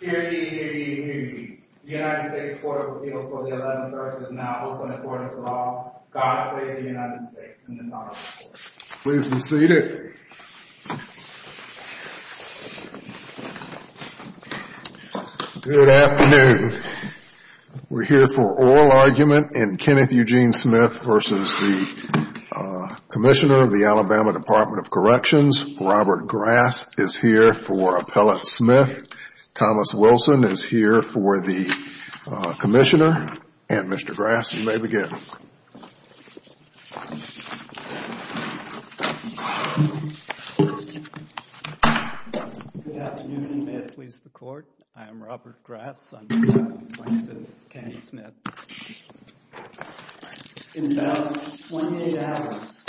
Good afternoon. We're here for oral argument in Kenneth Eugene Smith v. the U.S. Department Commissioner of the Alabama Department of Corrections, Robert Grass is here for Appellate Smith. Thomas Wilson is here for the Commissioner. And Mr. Grass, you may begin. Good afternoon. May it please the Court? I am Robert Grass. I'm here to complain to Kenneth Smith. In about 28 hours,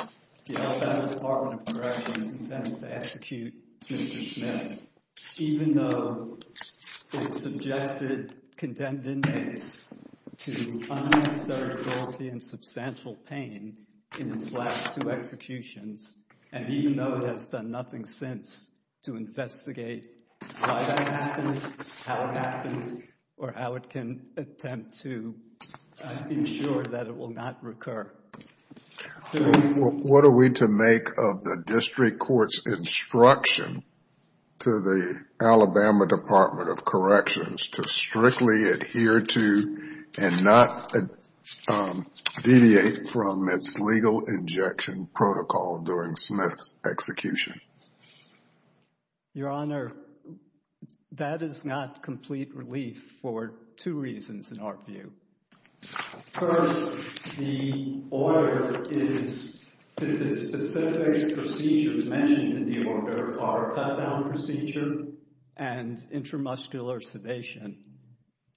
the Alabama Department of Corrections intends to execute Mr. Smith, even though it subjected condemned inmates to unnecessary guilty and substantial pain in its last two executions. And even though it has done nothing since to investigate what happened, how it happened, or how it can attempt to ensure that it will not recur. What are we to make of the district court's instruction to the Alabama Department of Corrections to strictly adhere to and not deviate from its legal injection protocol during Smith's execution? Your Honor, that is not complete relief for two reasons, in our view. First, the order is that the specific procedures mentioned in the order are cut down procedure and intramuscular sedation.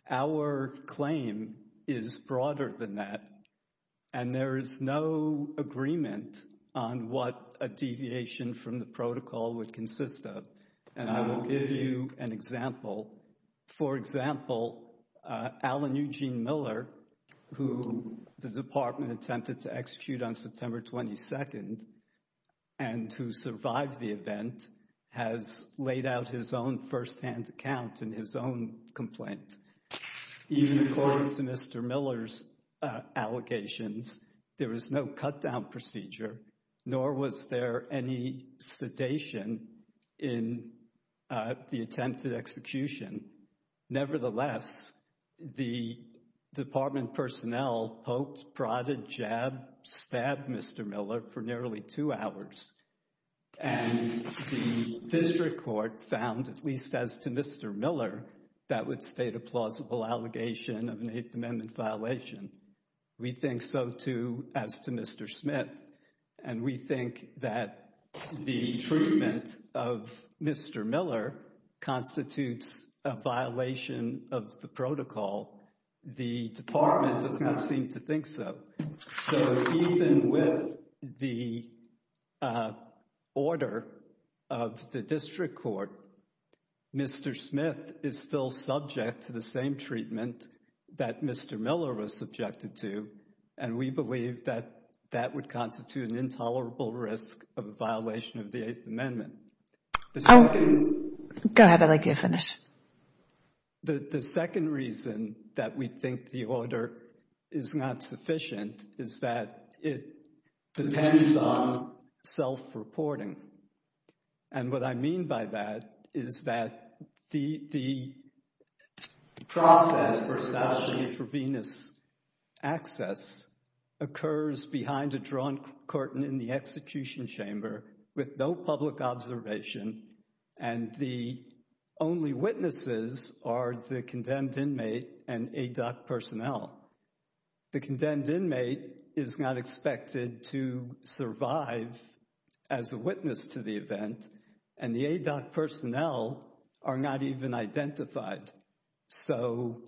Our claim is broader than that. And there is no agreement on what a deviation from the protocol would consist of. And I will give you an example. For example, Alan Eugene Miller, who the department attempted to execute on September 22nd and who survived the event, has laid out his own firsthand account in his own complaint. Even according to Mr. Miller's allegations, there was no cut down procedure, nor was there any sedation in the attempted execution. Nevertheless, the department personnel poked, prodded, jab, stabbed Mr. Miller for nearly two hours. And the district court found, at least as to Mr. Miller, that would state a plausible allegation of an Eighth Amendment violation. We think so, too, as to Mr. Smith. And we think that the treatment of Mr. Miller constitutes a violation of the protocol. The department does not seem to think so. So even with the order of the district court, Mr. Smith is still subject to the same treatment that Mr. Miller was subjected to. And we believe that that would constitute an intolerable risk of a violation of the Eighth Amendment. Oh, go ahead. I'd like you to finish. The second reason that we think the order is not sufficient is that it depends on self-reporting. And what I mean by that is that the process for establishing intravenous access occurs behind a drawn curtain in the execution chamber with no public observation, and the only witnesses are the condemned inmate and ADOC personnel. The condemned inmate is not expected to survive as a witness to the event, and the ADOC personnel are not even identified. So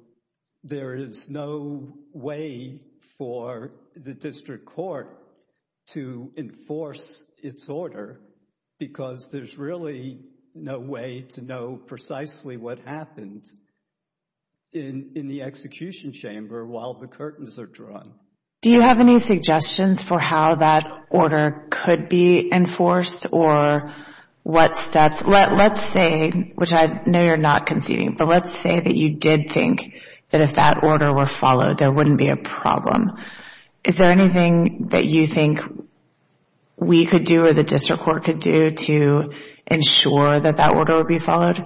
there is no way for the district court to enforce its order because there's really no way to know precisely what happened in the execution chamber while the curtains are drawn. Do you have any suggestions for how that order could be enforced or what steps? Let's say, which I know you're not conceding, but let's say that you did think that if that order were followed, there wouldn't be a problem. Is there anything that you think we could do or the district court could do to ensure that that order would be followed?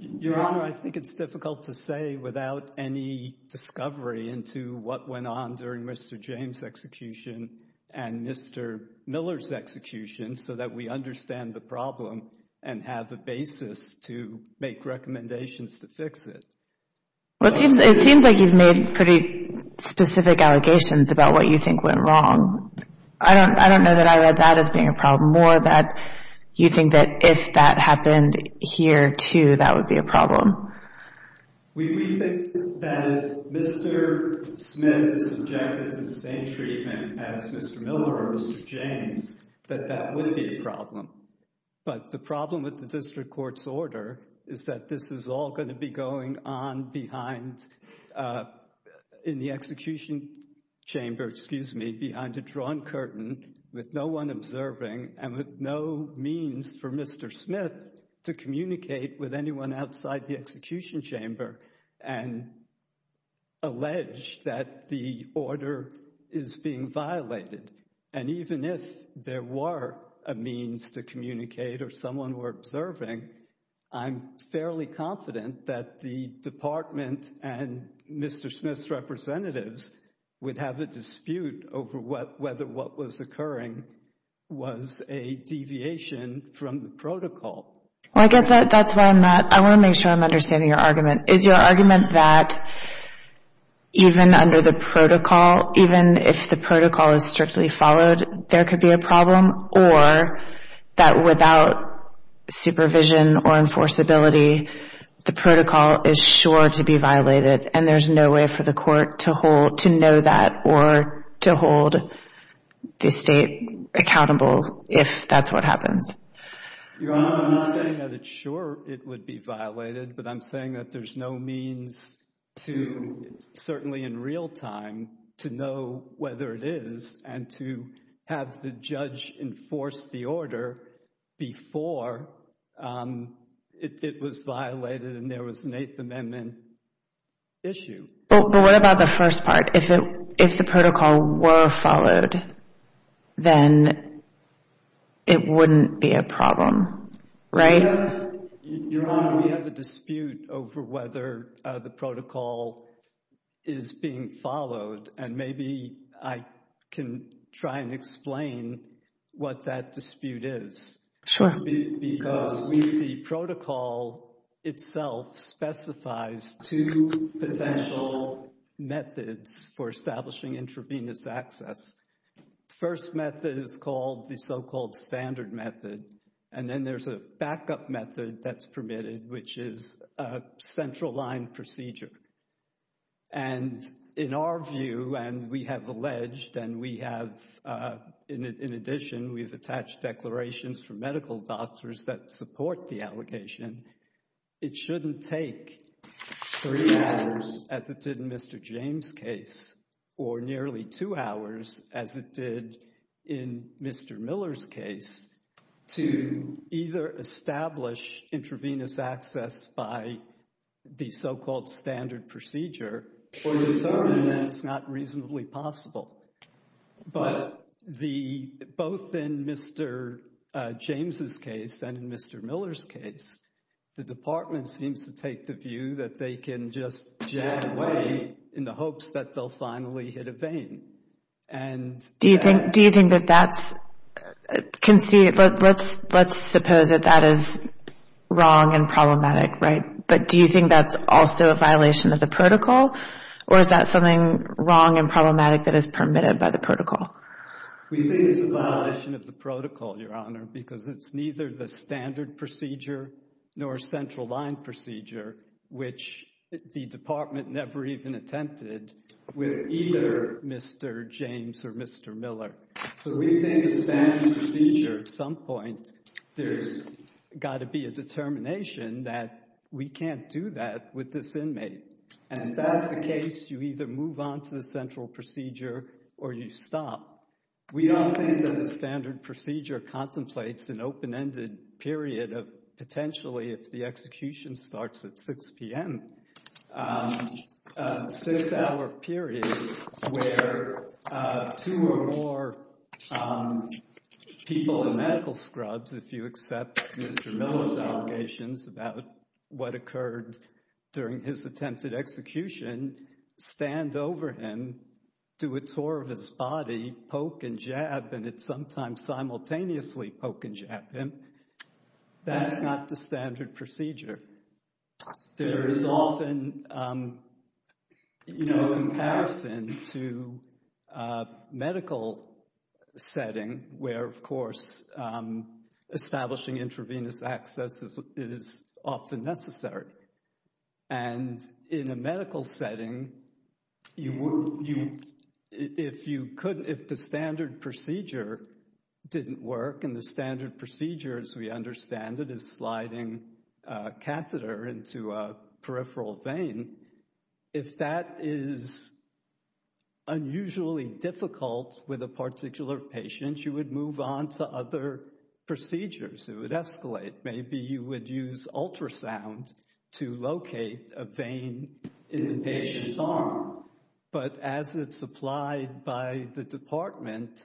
Your Honor, I think it's difficult to say without any discovery into what went on during Mr. James' execution and Mr. Miller's execution so that we understand the problem and have a basis to make recommendations to fix it. It seems like you've made pretty specific allegations about what you think went wrong. I don't know that I read that as being a problem. More that you think that if that happened here, too, that would be a problem. We think that if Mr. Smith is subjected to the same treatment as Mr. Miller or Mr. James, that that would be a problem. But the problem with the district court's order is that this is all going to be going on in the execution chamber behind a drawn curtain with no one observing and with no means for Mr. Smith to communicate with anyone outside the execution chamber and allege that the order is being violated. And even if there were a means to communicate or someone were observing, I'm fairly confident that the department and Mr. Smith's representatives would have a dispute over whether what was occurring was a deviation from the protocol. Well, I guess that's why I want to make sure I'm understanding your argument. Is your argument that even under the protocol, even if the protocol is strictly followed, there could be a problem or that without supervision or enforceability, the protocol is sure to be violated and there's no way for the court to know that or to hold the state accountable if that's what happens? Your Honor, I'm not saying that it's sure it would be violated, but I'm saying that there's no means to, certainly in real time, to know whether it is and to have the judge enforce the order before it was violated and there was an Eighth Amendment issue. But what about the first part? If the protocol were followed, then it wouldn't be a problem, right? Your Honor, we have a dispute over whether the protocol is being followed, and maybe I can try and explain what that dispute is. Because the protocol itself specifies two potential methods for establishing intravenous access. First method is called the so-called standard method. And then there's a backup method that's permitted, which is a central line procedure. And in our view, and we have alleged and we have, in addition, we've attached declarations from medical doctors that support the allegation, it shouldn't take three hours, as it did in Mr. James' case, or nearly two hours, as it did in Mr. Miller's case, to either establish intravenous access by the so-called standard procedure or determine that it's not reasonably possible. But both in Mr. James' case and in Mr. Miller's case, the department seems to take the view that they can just jag away in the hopes that they'll finally hit a vein. Do you think that that's conceit? Let's suppose that that is wrong and problematic, right? But do you think that's also a violation of the protocol? Or is that something wrong and problematic that is permitted by the protocol? We think it's a violation of the protocol, Your Honor, because it's neither the standard procedure nor a central line procedure, which the department never even attempted with either Mr. James or Mr. Miller. So we think the standard procedure, at some point, there's got to be a determination that we can't do that with this inmate. And if that's the case, you either move on to the central procedure or you stop. We don't think that the standard procedure contemplates an open-ended period of potentially, if the execution starts at 6 p.m., a six-hour period where two or more people in medical scrubs, if you accept Mr. Miller's allegations about what occurred during his attempted execution, stand over him, do a tour of his body, poke and jab, and it's sometimes simultaneously poke and jab him. That's not the standard procedure. There is often a comparison to a medical setting where, of course, establishing intravenous access is often necessary. And in a medical setting, if the standard procedure didn't work and the standard procedure, as we understand it, is sliding a catheter into a peripheral vein, if that is unusually difficult with a particular patient, you would move on to other procedures. It would escalate. Maybe you would use ultrasound to locate a vein in the patient's arm. But as it's applied by the department,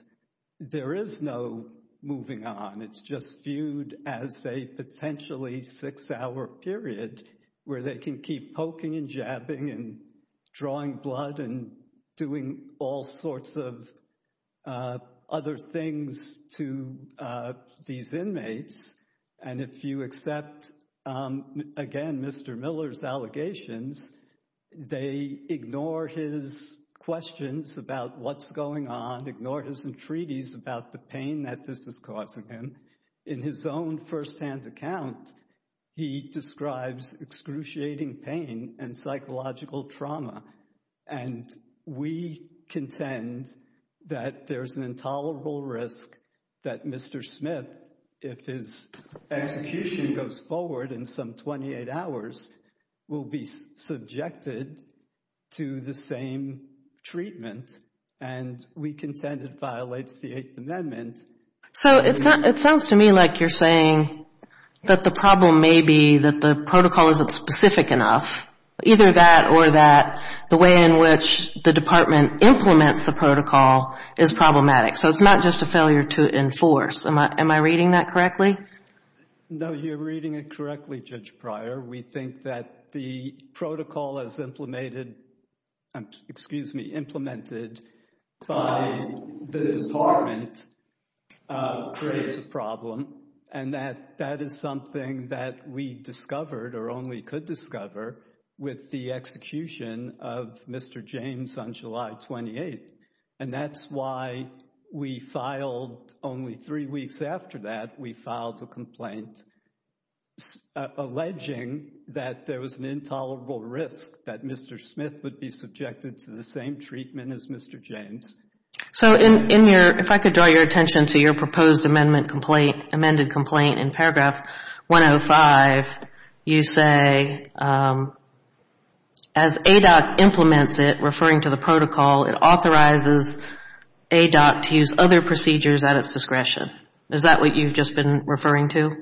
there is no moving on. It's just viewed as a potentially six-hour period where they can keep poking and jabbing and drawing blood and doing all sorts of other things to these inmates. And if you accept, again, Mr. Miller's allegations, they ignore his questions about what's going on, ignore his entreaties about the pain that this is causing him. In his own firsthand account, he describes excruciating pain and psychological trauma. And we contend that there's an intolerable risk that Mr. Smith, if his execution goes forward in some 28 hours, will be subjected to the same treatment. And we contend it violates the Eighth Amendment. So it sounds to me like you're saying that the problem may be that the protocol isn't specific enough. Either that or that the way in which the department implements the protocol is problematic. So it's not just a failure to enforce. Am I reading that correctly? No, you're reading it correctly, Judge Pryor. We think that the protocol as implemented by the department creates a problem. And that is something that we discovered or only could discover with the execution of Mr. James on July 28th. And that's why we filed, only three weeks after that, we filed a complaint alleging that there was an intolerable risk that Mr. Smith would be subjected to the same treatment as Mr. James. So in your, if I could draw your attention to your proposed amendment complaint, amended complaint in paragraph 105, you say as ADOC implements it, referring to the protocol, it authorizes ADOC to use other procedures at its discretion. Is that what you've just been referring to?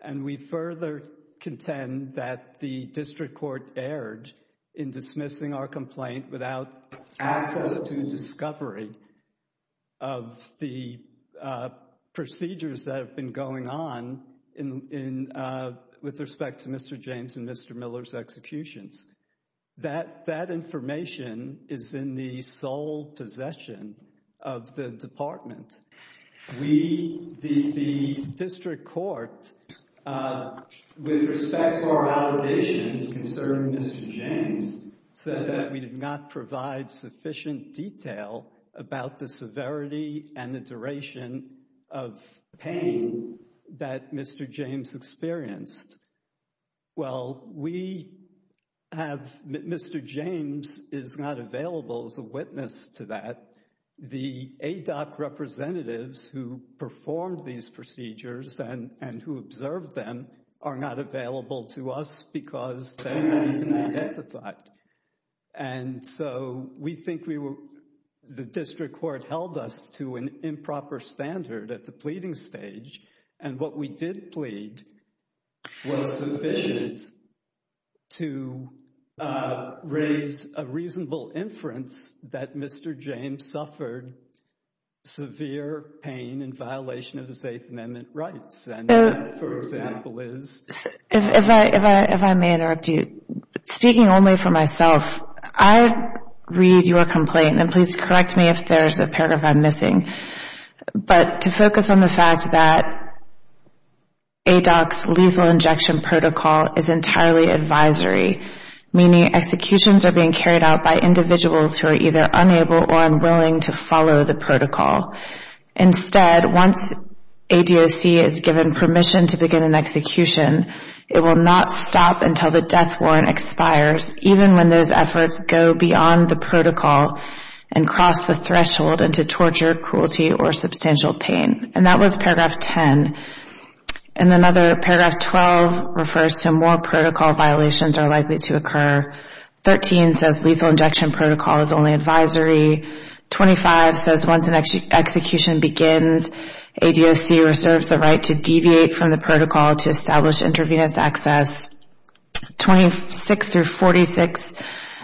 And we further contend that the district court erred in dismissing our complaint without access to discovery of the procedures that have been going on in with respect to Mr. James and Mr. Miller's executions. That information is in the sole possession of the department. We, the district court, with respect to our allegations concerning Mr. James, said that we did not provide sufficient detail about the severity and the duration of pain that Mr. James experienced. Well, we have, Mr. James is not available as a witness to that. The ADOC representatives who performed these procedures and who observed them are not available to us because they were not identified. And so we think we were, the district court held us to an improper standard at the pleading stage. And what we did plead was sufficient to raise a reasonable inference that Mr. James suffered severe pain and violation of his Eighth Amendment rights. If I may interrupt you. Speaking only for myself, I read your complaint, and please correct me if there's a paragraph I'm missing, but to focus on the fact that ADOC's lethal injection protocol is entirely advisory, meaning executions are being carried out by individuals who are either unable or unwilling to follow the protocol. Instead, once ADOC is given permission to begin an execution, it will not stop until the death warrant expires, even when those efforts go beyond the protocol and cross the threshold into torture, cruelty, or substantial pain. And that was paragraph 10. And another, paragraph 12, refers to more protocol violations are likely to occur. 13 says lethal injection protocol is only advisory. 25 says once an execution begins, ADOC reserves the right to deviate from the protocol to establish intravenous access. 26-46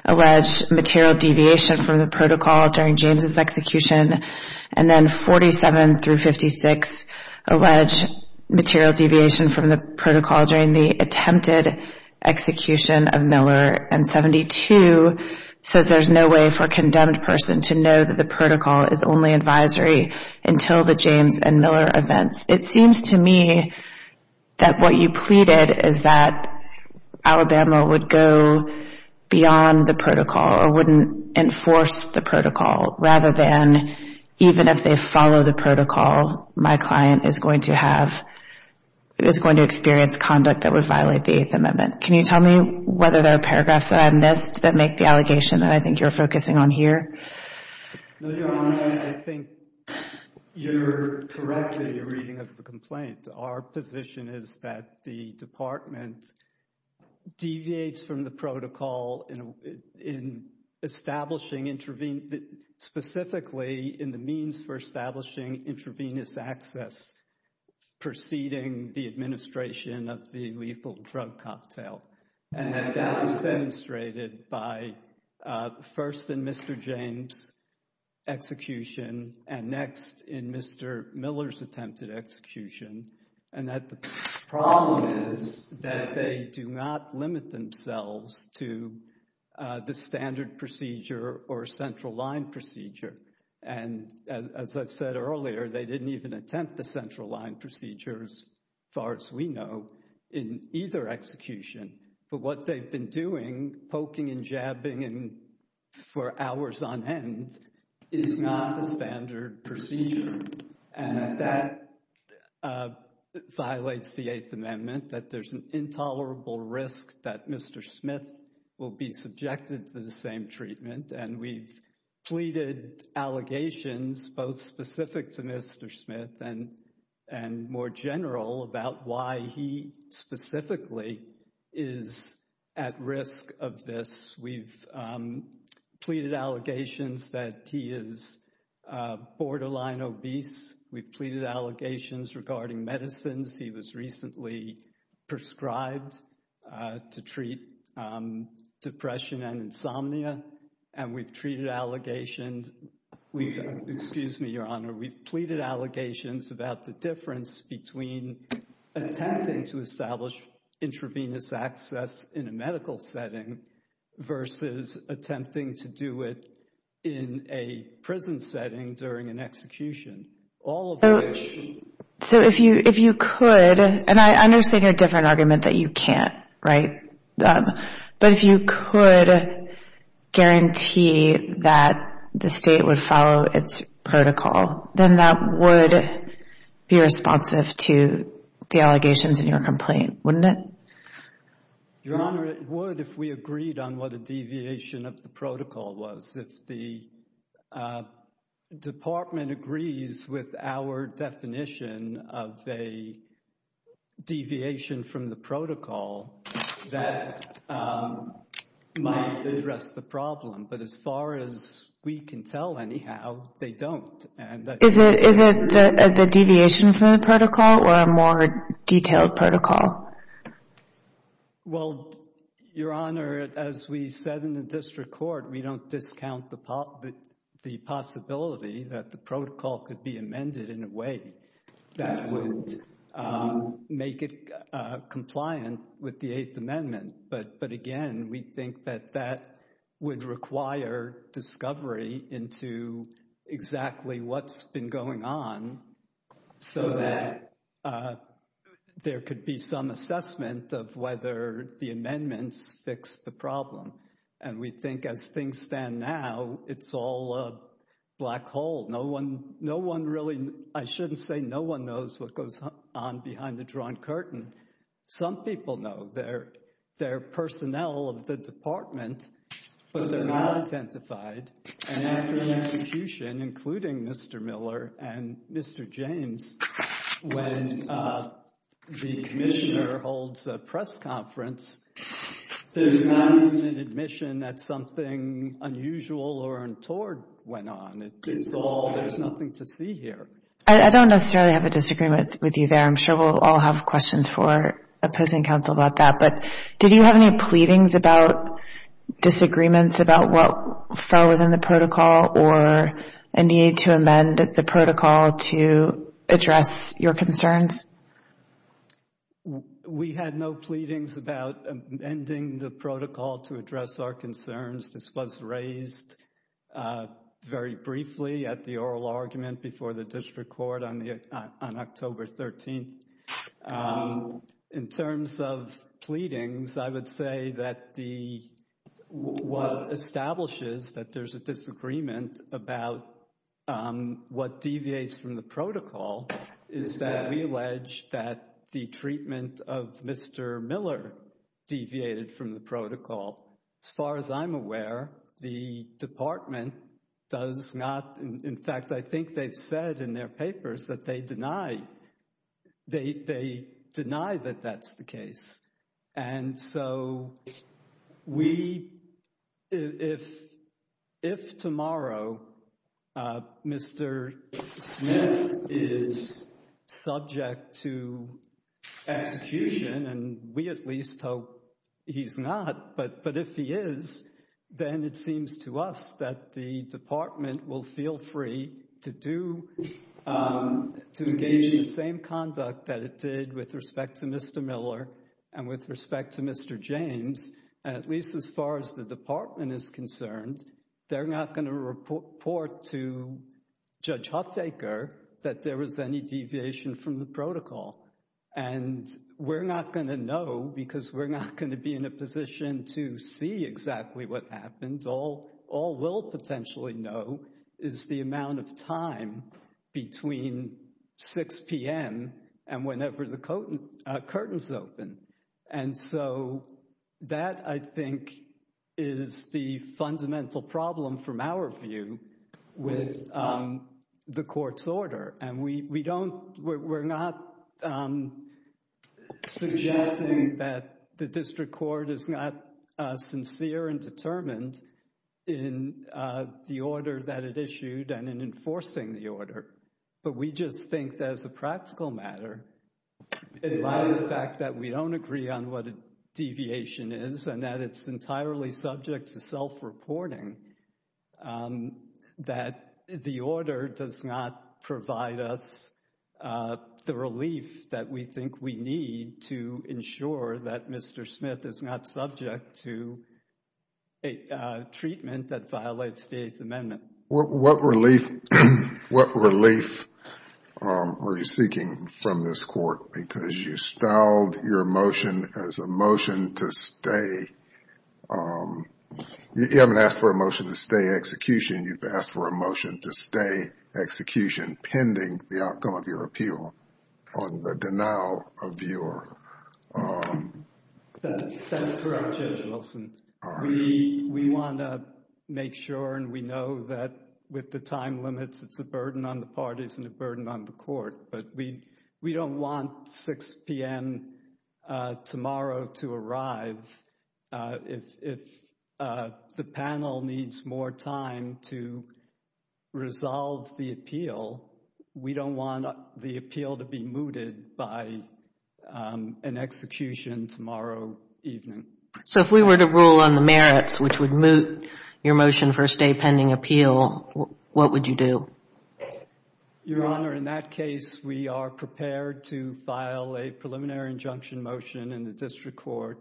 allege material deviation from the protocol during James' execution. And then 47-56 allege material deviation from the protocol during the attempted execution of Miller. And 72 says there's no way for a condemned person to know that the protocol is only advisory until the James and Miller events. It seems to me that what you pleaded is that Alabama would go beyond the protocol or wouldn't enforce the protocol, rather than even if they follow the protocol, my client is going to have, is going to experience conduct that would violate the Eighth Amendment. Can you tell me whether there are paragraphs that I missed that make the allegation that I think you're focusing on here? No, Your Honor, I think you're correct in your reading of the complaint. Our position is that the Department deviates from the protocol in establishing intravenous, specifically in the means for establishing intravenous access preceding the administration of the lethal drug cocktail. And that that was demonstrated by first in Mr. James' execution and next in Mr. Miller's attempted execution. And that the problem is that they do not limit themselves to the standard procedure or central line procedure. And as I've said earlier, they didn't even attempt the central line procedures, far as we know, in either execution. But what they've been doing, poking and jabbing for hours on end, is not the standard procedure. And that violates the Eighth Amendment, that there's an intolerable risk that Mr. Smith will be subjected to the same treatment. And we've pleaded allegations, both specific to Mr. Smith and more general, about why he specifically is at risk of this. We've pleaded allegations that he is borderline obese. We've pleaded allegations regarding medicines. He was recently prescribed to treat depression and insomnia. And we've treated allegations, excuse me, Your Honor, we've pleaded allegations about the difference between attempting to establish intravenous access in a medical setting versus attempting to do it in a prison setting during an execution. All of which... So if you could, and I understand your different argument that you can't, right? But if you could guarantee that the state would follow its protocol, then that would be responsive to the allegations in your complaint, wouldn't it? Your Honor, it would if we agreed on what a deviation of the protocol was. If the department agrees with our definition of a deviation from the protocol, that might address the problem. But as far as we can tell, anyhow, they don't. Is it the deviation from the protocol or a more detailed protocol? Well, Your Honor, as we said in the district court, we don't discount the possibility that the protocol could be amended in a way that would make it compliant with the Eighth Amendment. But again, we think that that would require discovery into exactly what's been going on so that there could be some assessment of whether the amendments fix the problem. And we think as things stand now, it's all a black hole. No one really... I shouldn't say no one knows what goes on behind the drawn curtain. Some people know. They're personnel of the department, but they're not identified. And after the execution, including Mr. Miller and Mr. James, when the commissioner holds a press conference, there's not an admission that something unusual or untoward went on. There's nothing to see here. I don't necessarily have a disagreement with you there. I'm sure we'll all have questions for opposing counsel about that. But did you have any pleadings about disagreements about what fell within the protocol or a need to amend the protocol to address your concerns? We had no pleadings about amending the protocol to address our concerns. This was raised very briefly at the oral argument before the district court on October 13th. In terms of pleadings, I would say that what establishes that there's a disagreement about what deviates from the protocol is that we allege that the treatment of Mr. Miller deviated from the protocol. As far as I'm aware, the department does not. In fact, I think they've said in their papers that they deny that that's the case. And so we if if tomorrow Mr. Smith is subject to execution and we at least hope he's not, but but if he is, then it seems to us that the department will feel free to do. To engage in the same conduct that it did with respect to Mr. Miller and with respect to Mr. James, at least as far as the department is concerned, they're not going to report to Judge Huffaker that there was any deviation from the protocol. And we're not going to know because we're not going to be in a position to see exactly what happened. All we'll potentially know is the amount of time between 6 p.m. and whenever the curtains open. And so that I think is the fundamental problem from our view with the court's order. And we don't we're not suggesting that the district court is not sincere and determined in the order that it issued and in enforcing the order. But we just think that as a practical matter, in light of the fact that we don't agree on what a deviation is and that it's entirely subject to self-reporting, that the order does not provide us the relief that we think we need to ensure that Mr. Smith is not subject to a treatment that violates the Eighth Amendment. What relief are you seeking from this court? Because you styled your motion as a motion to stay. You haven't asked for a motion to stay execution. You've asked for a motion to stay execution pending the outcome of your appeal on the denial of your... With the time limits, it's a burden on the parties and a burden on the court. But we don't want 6 p.m. tomorrow to arrive. If the panel needs more time to resolve the appeal, we don't want the appeal to be mooted by an execution tomorrow evening. So if we were to rule on the merits, which would moot your motion for a stay pending appeal, what would you do? Your Honor, in that case, we are prepared to file a preliminary injunction motion in the district court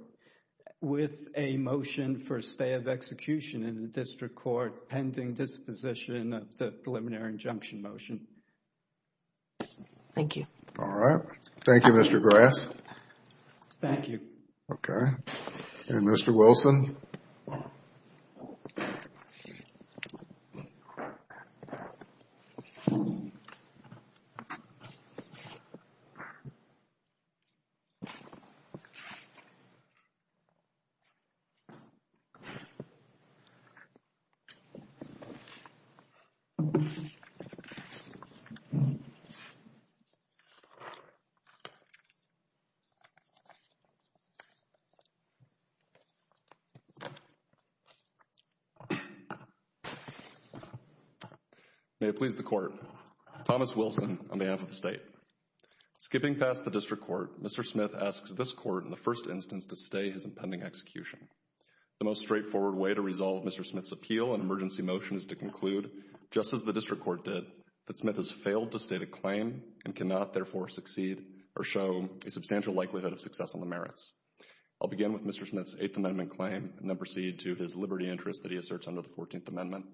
with a motion for a stay of execution in the district court pending disposition of the preliminary injunction motion. Thank you. All right. Thank you, Mr. Grass. Thank you. Okay. And Mr. Wilson? May it please the court. I'll begin with Mr. Smith's Eighth Amendment claim and then proceed to his liberty interest that he asserts under the Fourteenth Amendment.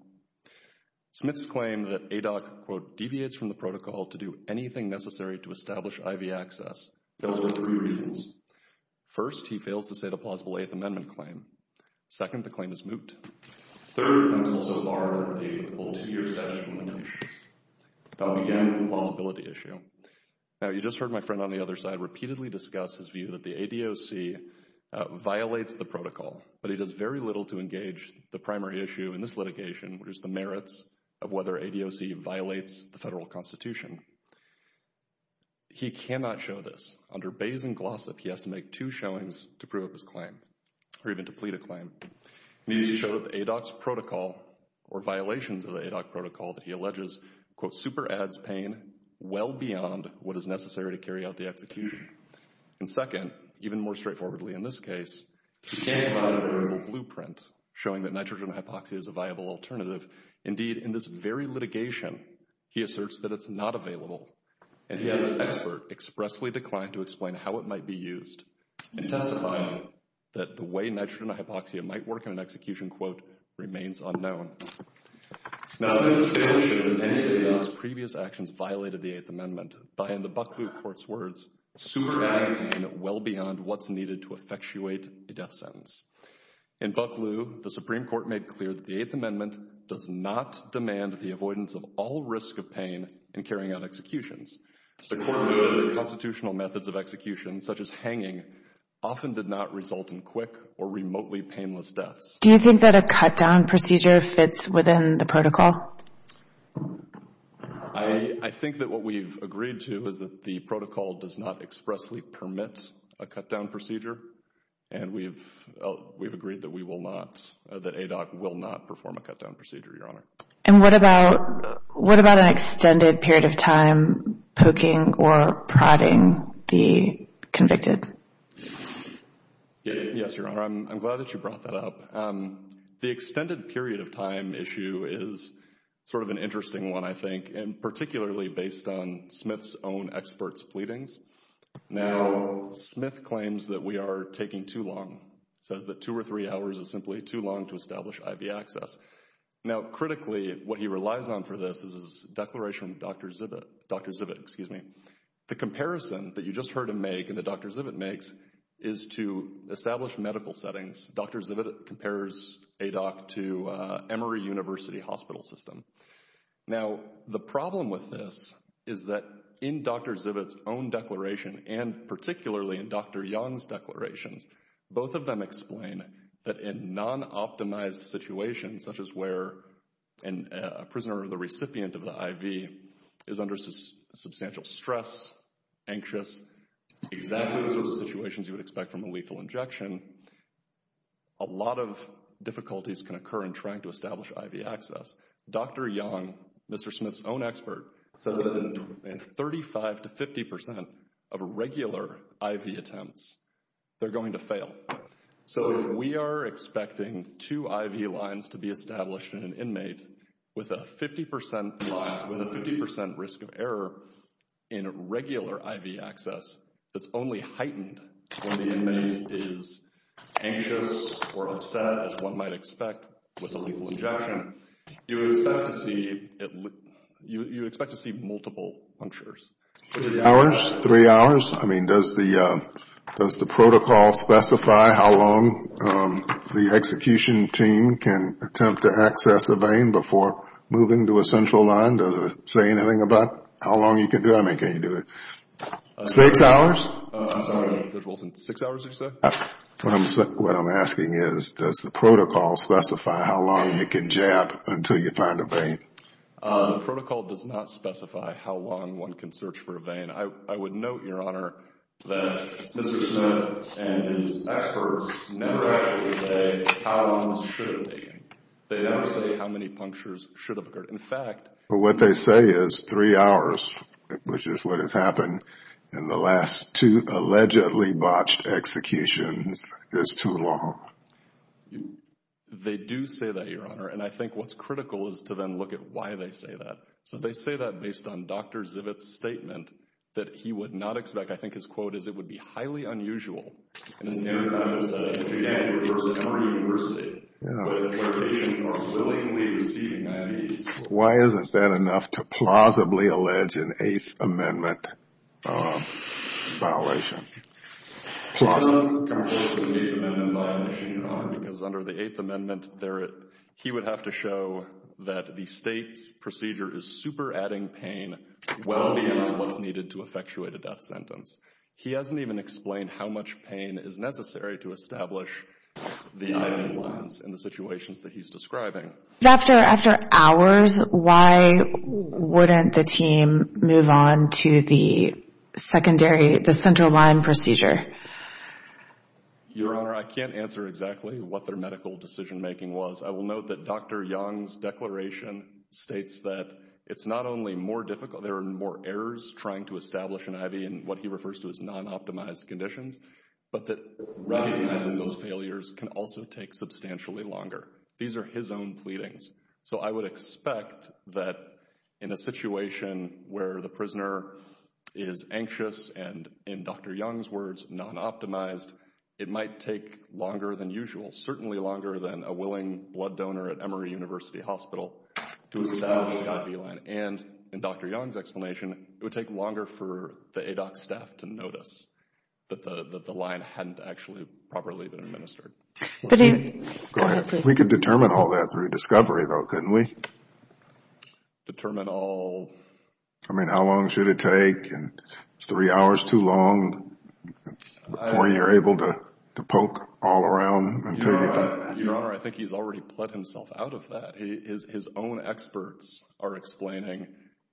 Smith's claim that ADOC, quote, deviates from the protocol to do anything necessary to establish IV access fails for three reasons. First, he fails to state a plausible Eighth Amendment claim. Second, the claim is moot. Third, the claim is also barred under the two-year statute of limitations. I'll begin with the plausibility issue. Now, you just heard my friend on the other side repeatedly discuss his view that the ADOC violates the protocol, but he does very little to engage the primary issue in this litigation, which is the merits of whether ADOC violates the federal constitution. He cannot show this. Under Bayes and Glossop, he has to make two showings to prove his claim or even to plead a claim. He needs to show that the ADOC's protocol or violations of the ADOC protocol that he alleges, quote, super adds pain well beyond what is necessary to carry out the execution. And second, even more straightforwardly in this case, he can't provide a viable blueprint showing that nitrogen hypoxia is a viable alternative. Indeed, in this very litigation, he asserts that it's not available. And he and his expert expressly declined to explain how it might be used in testifying that the way nitrogen hypoxia might work in an execution, quote, remains unknown. Now, in this case, the ADOC's previous actions violated the Eighth Amendment by, in the Bucklew Court's words, super adding pain well beyond what's needed to effectuate a death sentence. In Bucklew, the Supreme Court made clear that the Eighth Amendment does not demand the avoidance of all risk of pain in carrying out executions. The court ruled that the constitutional methods of execution, such as hanging, often did not result in quick or remotely painless deaths. Do you think that a cut-down procedure fits within the protocol? I think that what we've agreed to is that the protocol does not expressly permit a cut-down procedure. And we've agreed that we will not, that ADOC will not perform a cut-down procedure, Your Honor. And what about an extended period of time poking or prodding the convicted? Yes, Your Honor. I'm glad that you brought that up. The extended period of time issue is sort of an interesting one, I think, and particularly based on Smith's own expert's pleadings. Now, Smith claims that we are taking too long, says that two or three hours is simply too long to establish IV access. Now, critically, what he relies on for this is his declaration from Dr. Zivit. The comparison that you just heard him make and that Dr. Zivit makes is to establish medical settings. Dr. Zivit compares ADOC to Emory University hospital system. Now, the problem with this is that in Dr. Zivit's own declaration and particularly in Dr. Young's declarations, both of them explain that in non-optimized situations, such as where a prisoner or the recipient of the IV is under substantial stress, anxious, exactly the sorts of situations you would expect from a lethal injection, a lot of difficulties can occur in trying to establish IV access. Dr. Young, Mr. Smith's own expert, says that in 35 to 50 percent of regular IV attempts, they're going to fail. So if we are expecting two IV lines to be established in an inmate with a 50 percent risk of error in regular IV access, it's only heightened when the inmate is anxious or upset as one might expect with a lethal injection. You expect to see multiple punctures. Three hours? I mean, does the protocol specify how long the execution team can attempt to access a vein before moving to a central line? Does it say anything about how long you can do it? I mean, can you do it six hours? I'm sorry. Six hours, you said? What I'm asking is, does the protocol specify how long you can jab until you find a vein? The protocol does not specify how long one can search for a vein. I would note, Your Honor, that Mr. Smith and his experts never actually say how long this should have taken. They never say how many punctures should have occurred. What they say is three hours, which is what has happened in the last two allegedly botched executions. It's too long. They do say that, Your Honor, and I think what's critical is to then look at why they say that. So they say that based on Dr. Zivit's statement that he would not expect. I think his quote is, it would be highly unusual. And his narrative, I would say, again, refers to Henry University, where patients are willingly receiving IVs. Why isn't that enough to plausibly allege an Eighth Amendment violation? It doesn't come close to an Eighth Amendment violation, Your Honor, because under the Eighth Amendment, he would have to show that the state's procedure is super adding pain well beyond what's needed to effectuate a death sentence. He hasn't even explained how much pain is necessary to establish the IV lines in the situations that he's describing. After hours, why wouldn't the team move on to the secondary, the central line procedure? Your Honor, I can't answer exactly what their medical decision making was. I will note that Dr. Yang's declaration states that it's not only more difficult, there are more errors trying to establish an IV in what he refers to as non-optimized conditions, but that recognizing those failures can also take substantially longer. These are his own pleadings. So I would expect that in a situation where the prisoner is anxious and, in Dr. Yang's words, non-optimized, it might take longer than usual, certainly longer than a willing blood donor at Emory University Hospital to establish the IV line. And in Dr. Yang's explanation, it would take longer for the ADOC staff to notice that the line hadn't actually properly been administered. Go ahead. We could determine all that through discovery, though, couldn't we? Determine all? I mean, how long should it take? Three hours too long before you're able to poke all around? Your Honor, I think he's already put himself out of that. His own experts are explaining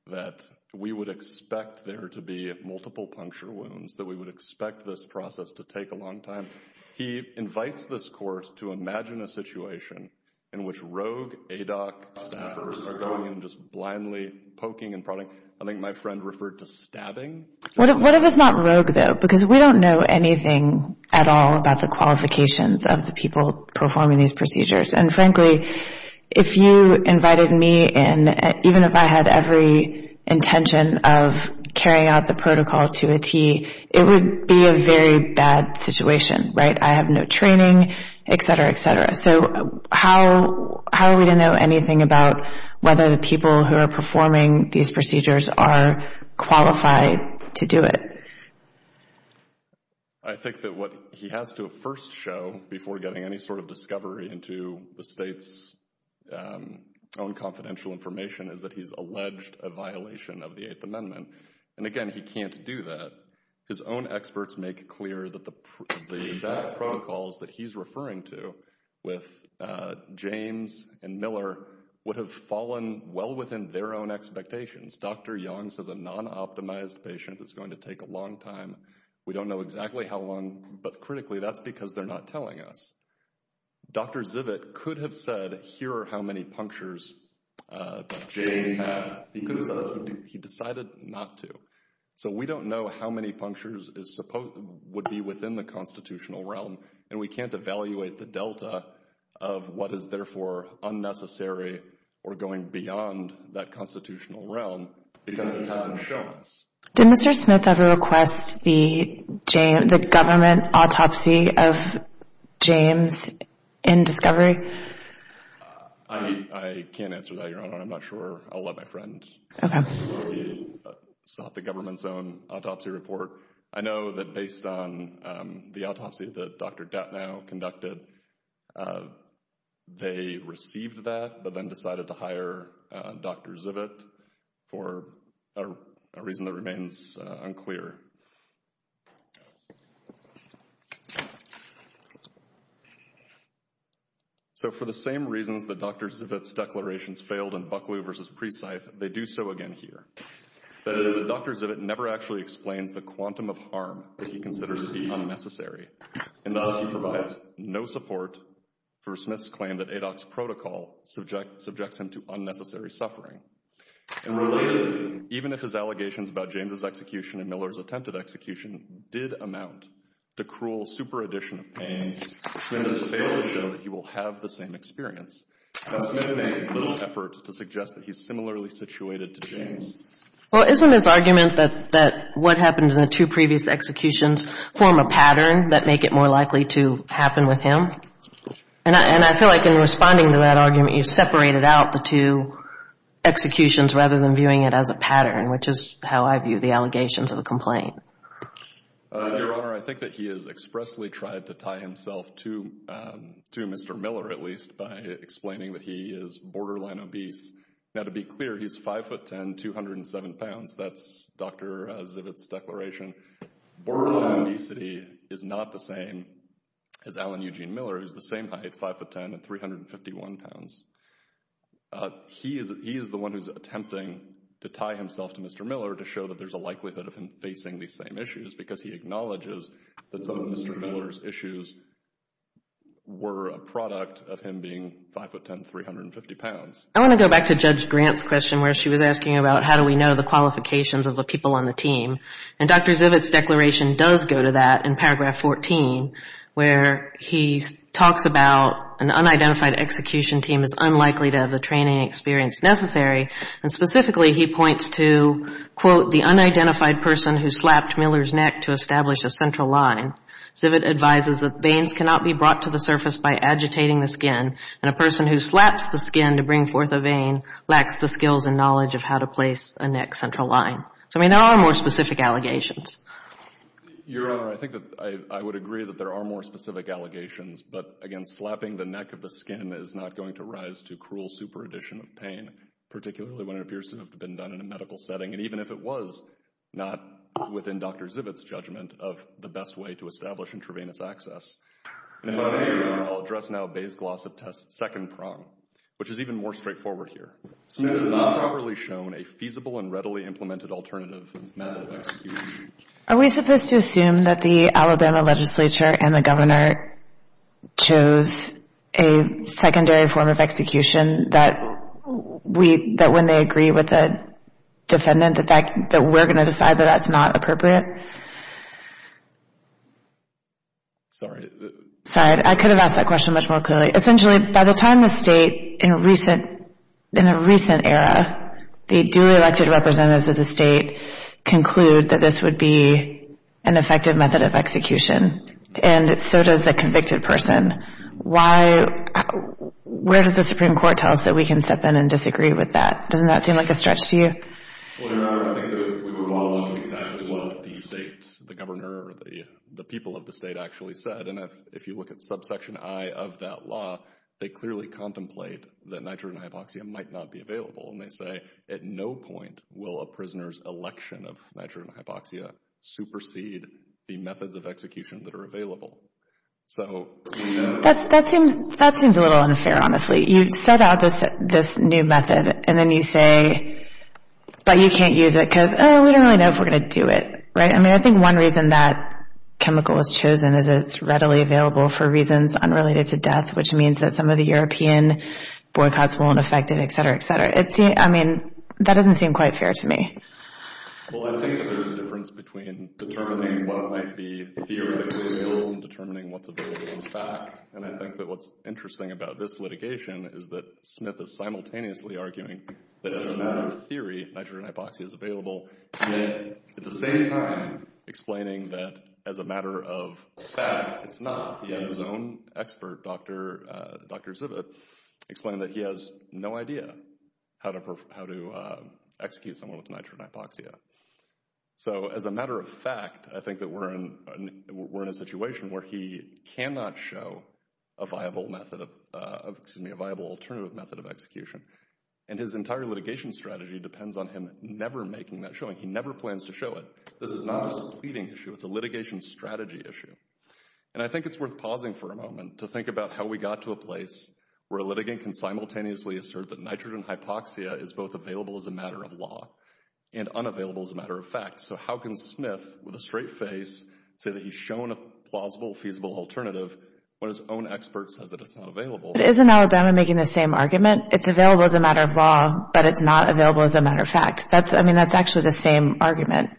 that we would expect there to be multiple puncture wounds, that we would expect this process to take a long time. He invites this court to imagine a situation in which rogue ADOC staffers are going in and just blindly poking and prodding. I think my friend referred to stabbing. What if it's not rogue, though? Because we don't know anything at all about the qualifications of the people performing these procedures. And frankly, if you invited me in, even if I had every intention of carrying out the protocol to a T, it would be a very bad situation, right? I have no training, et cetera, et cetera. So how are we to know anything about whether the people who are performing these procedures are qualified to do it? I think that what he has to first show before getting any sort of discovery into the state's own confidential information is that he's alleged a violation of the Eighth Amendment. And again, he can't do that. His own experts make it clear that the exact protocols that he's referring to with James and Miller would have fallen well within their own expectations. Dr. Young says a non-optimized patient is going to take a long time. We don't know exactly how long. But critically, that's because they're not telling us. Dr. Zivit could have said, here are how many punctures that James had. He could have said he decided not to. So we don't know how many punctures would be within the constitutional realm. And we can't evaluate the delta of what is, therefore, unnecessary or going beyond that constitutional realm because it hasn't shown us. Did Mr. Smith ever request the government autopsy of James in discovery? I can't answer that, Your Honor. I'm not sure. I'll let my friend sort the government's own autopsy report. I know that based on the autopsy that Dr. Gatnow conducted, they received that but then decided to hire Dr. Zivit for a reason that remains unclear. So for the same reasons that Dr. Zivit's declarations failed in Buckley v. Presythe, they do so again here. That is, Dr. Zivit never actually explains the quantum of harm that he considers to be unnecessary. And thus, he provides no support for Smith's claim that ADOC's protocol subjects him to unnecessary suffering. And related, even if his allegations about James' execution and Miller's attempted execution did amount to cruel super addition of pain, Smith has failed to show that he will have the same experience. Now, Smith makes little effort to suggest that he's similarly situated to James. Well, isn't his argument that what happened in the two previous executions form a pattern that make it more likely to happen with him? And I feel like in responding to that argument, you separated out the two executions rather than viewing it as a pattern, which is how I view the allegations of the complaint. Your Honor, I think that he has expressly tried to tie himself to Mr. Miller, at least, by explaining that he is borderline obese. Now, to be clear, he's 5'10", 207 pounds. That's Dr. Zivit's declaration. Borderline obesity is not the same as Alan Eugene Miller, who's the same height, 5'10", and 351 pounds. He is the one who's attempting to tie himself to Mr. Miller to show that there's a likelihood of him facing these same issues because he acknowledges that some of Mr. Miller's issues were a product of him being 5'10", 350 pounds. I want to go back to Judge Grant's question where she was asking about how do we know the qualifications of the people on the team. And Dr. Zivit's declaration does go to that in paragraph 14, where he talks about an unidentified execution team is unlikely to have the training experience necessary. And specifically, he points to, quote, the unidentified person who slapped Miller's neck to establish a central line. Zivit advises that veins cannot be brought to the surface by agitating the skin, and a person who slaps the skin to bring forth a vein lacks the skills and knowledge of how to place a neck central line. So, I mean, there are more specific allegations. Your Honor, I think that I would agree that there are more specific allegations. But, again, slapping the neck of the skin is not going to rise to cruel super addition of pain, particularly when it appears to have been done in a medical setting, and even if it was, not within Dr. Zivit's judgment of the best way to establish intravenous access. If I may, Your Honor, I'll address now Bayes-Glossop test's second prong, which is even more straightforward here. State has not properly shown a feasible and readily implemented alternative method of execution. Are we supposed to assume that the Alabama legislature and the governor chose a secondary form of execution, that when they agree with the defendant, that we're going to decide that that's not appropriate? Sorry. Sorry, I could have asked that question much more clearly. Essentially, by the time the state, in a recent era, the duly elected representatives of the state conclude that this would be an effective method of execution, and so does the convicted person. Where does the Supreme Court tell us that we can step in and disagree with that? Doesn't that seem like a stretch to you? Well, Your Honor, I think that we would want to look at exactly what the state, the governor, or the people of the state actually said. And if you look at subsection I of that law, they clearly contemplate that nitrogen hypoxia might not be available. And they say, at no point will a prisoner's election of nitrogen hypoxia supersede the methods of execution that are available. That seems a little unfair, honestly. You set out this new method, and then you say, but you can't use it, because we don't really know if we're going to do it. I mean, I think one reason that chemical was chosen is that it's readily available for reasons unrelated to death, which means that some of the European boycotts won't affect it, et cetera, et cetera. I mean, that doesn't seem quite fair to me. Well, I think that there's a difference between determining what might be theoretically available and determining what's available in fact. And I think that what's interesting about this litigation is that Smith is simultaneously arguing that as a matter of theory, nitrogen hypoxia is available. And then at the same time explaining that as a matter of fact, it's not. His own expert, Dr. Zivit, explained that he has no idea how to execute someone with nitrogen hypoxia. So as a matter of fact, I think that we're in a situation where he cannot show a viable alternative method of execution. And his entire litigation strategy depends on him never making that showing. He never plans to show it. This is not just a pleading issue. It's a litigation strategy issue. And I think it's worth pausing for a moment to think about how we got to a place where a litigant can simultaneously assert that nitrogen hypoxia is both available as a matter of law and unavailable as a matter of fact. So how can Smith, with a straight face, say that he's shown a plausible, feasible alternative when his own expert says that it's not available? But isn't Alabama making the same argument? It's available as a matter of law, but it's not available as a matter of fact. I mean, that's actually the same argument.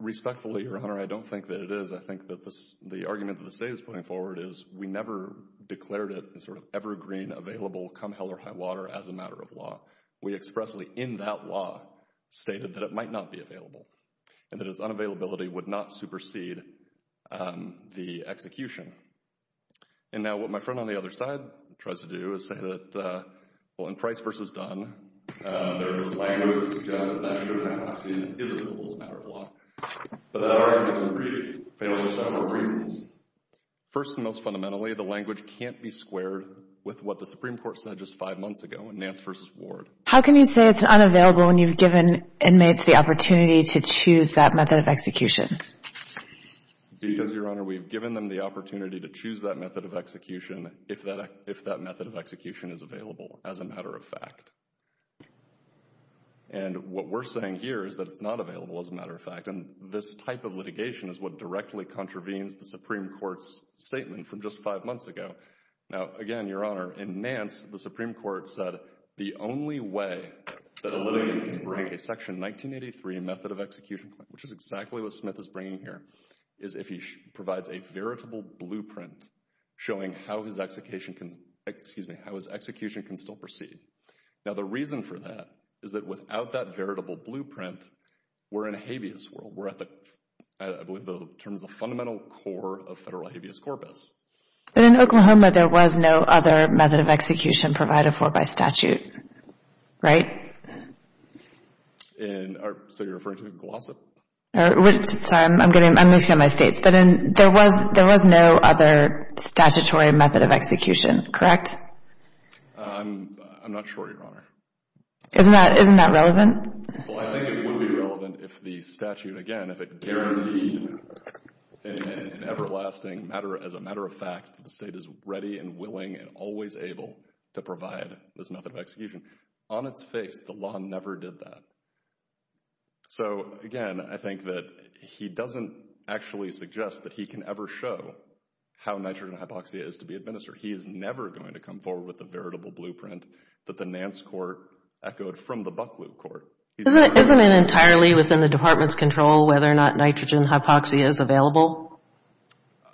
Respectfully, Your Honor, I don't think that it is. I think that the argument that the state is putting forward is we never declared it sort of evergreen, available, come hell or high water as a matter of law. We expressly, in that law, stated that it might not be available and that its unavailability would not supersede the execution. And now what my friend on the other side tries to do is say that, well, in Price v. Dunn, there's this language that suggests that nitrogen hypoxia is available as a matter of law. But that argument isn't brief. It fails for several reasons. First and most fundamentally, the language can't be squared with what the Supreme Court said just five months ago in Nance v. Ward. How can you say it's unavailable when you've given inmates the opportunity to choose that method of execution? Because, Your Honor, we've given them the opportunity to choose that method of execution if that method of execution is available as a matter of fact. And what we're saying here is that it's not available as a matter of fact. And this type of litigation is what directly contravenes the Supreme Court's statement from just five months ago. Now, again, Your Honor, in Nance, the Supreme Court said the only way that a litigant can bring a Section 1983 method of execution, which is exactly what Smith is bringing here, is if he provides a veritable blueprint showing how his execution can still proceed. Now, the reason for that is that without that veritable blueprint, we're in a habeas world. We're at, I believe, in terms of the fundamental core of federal habeas corpus. But in Oklahoma, there was no other method of execution provided for by statute, right? And so you're referring to Glossip? Sorry, I'm going to say my states. But there was no other statutory method of execution, correct? I'm not sure, Your Honor. Isn't that relevant? Well, I think it would be relevant if the statute, again, if it guaranteed an everlasting matter, as a matter of fact, the state is ready and willing and always able to provide this method of execution. On its face, the law never did that. So, again, I think that he doesn't actually suggest that he can ever show how nitrogen hypoxia is to be administered. He is never going to come forward with a veritable blueprint that the Nance court echoed from the Bucklew court. Isn't it entirely within the department's control whether or not nitrogen hypoxia is available?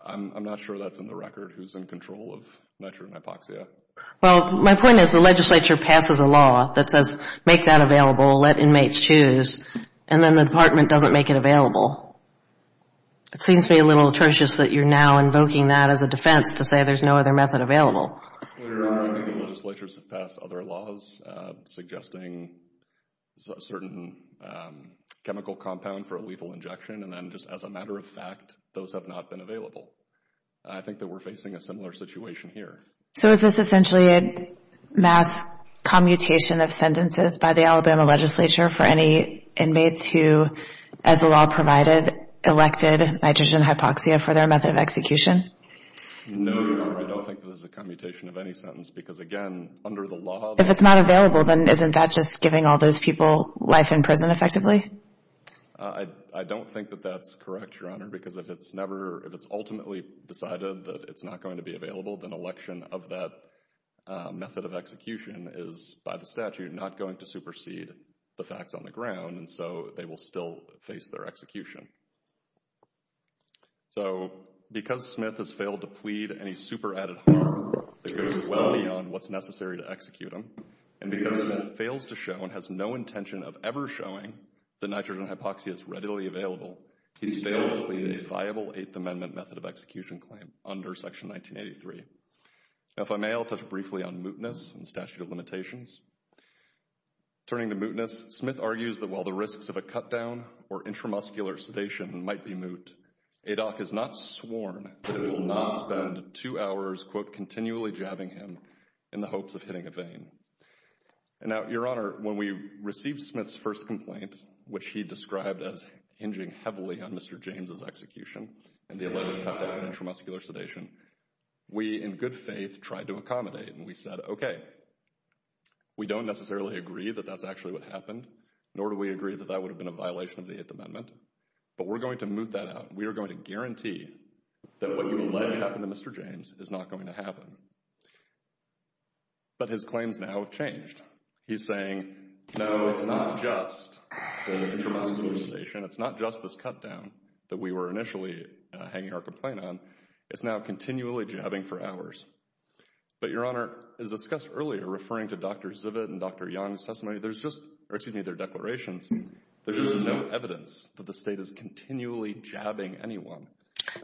I'm not sure that's in the record, who's in control of nitrogen hypoxia. Well, my point is the legislature passes a law that says make that available, let inmates choose, and then the department doesn't make it available. It seems to me a little atrocious that you're now invoking that as a defense to say there's no other method available. Your Honor, I think the legislature has passed other laws suggesting a certain chemical compound for a lethal injection, and then just as a matter of fact, those have not been available. I think that we're facing a similar situation here. So is this essentially a mass commutation of sentences by the Alabama legislature for any inmates who, as the law provided, elected nitrogen hypoxia for their method of execution? No, Your Honor, I don't think this is a commutation of any sentence because, again, under the law... If it's not available, then isn't that just giving all those people life in prison effectively? I don't think that that's correct, Your Honor, because if it's ultimately decided that it's not going to be available, then election of that method of execution is, by the statute, not going to supersede the facts on the ground, and so they will still face their execution. So, because Smith has failed to plead any super-added harm that goes well beyond what's necessary to execute him, and because Smith fails to show and has no intention of ever showing that nitrogen hypoxia is readily available, he's failed to plead a viable Eighth Amendment method of execution claim under Section 1983. Now, if I may, I'll touch briefly on mootness and statute of limitations. Turning to mootness, Smith argues that while the risks of a cut-down or intramuscular sedation might be moot, ADOC is not sworn to not spend two hours, quote, continually jabbing him in the hopes of hitting a vein. And now, Your Honor, when we received Smith's first complaint, which he described as hinging heavily on Mr. James' execution and the alleged cut-down or intramuscular sedation, we, in good faith, tried to accommodate, and we said, okay, we don't necessarily agree that that's actually what happened, nor do we agree that that would have been a violation of the Eighth Amendment, but we're going to moot that out. We are going to guarantee that what you allege happened to Mr. James is not going to happen. But his claims now have changed. He's saying, no, it's not just the intramuscular sedation. It's not just this cut-down that we were initially hanging our complaint on. It's now continually jabbing for hours. But, Your Honor, as discussed earlier, referring to Dr. Zivit and Dr. Young's testimony, there's just, or excuse me, their declarations, there's just no evidence that the State is continually jabbing anyone.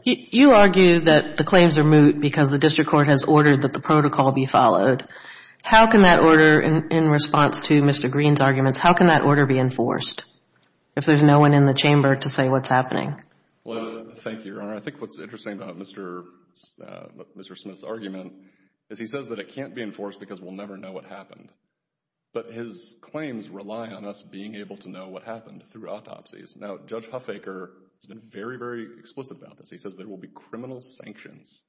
You argue that the claims are moot because the district court has ordered that the protocol be followed. How can that order, in response to Mr. Green's arguments, how can that order be enforced if there's no one in the chamber to say what's happening? Well, thank you, Your Honor. I think what's interesting about Mr. Smith's argument is he says that it can't be enforced because we'll never know what happened. But his claims rely on us being able to know what happened through autopsies. Now, Judge Huffaker has been very, very explicit about this. He says there will be criminal sanctions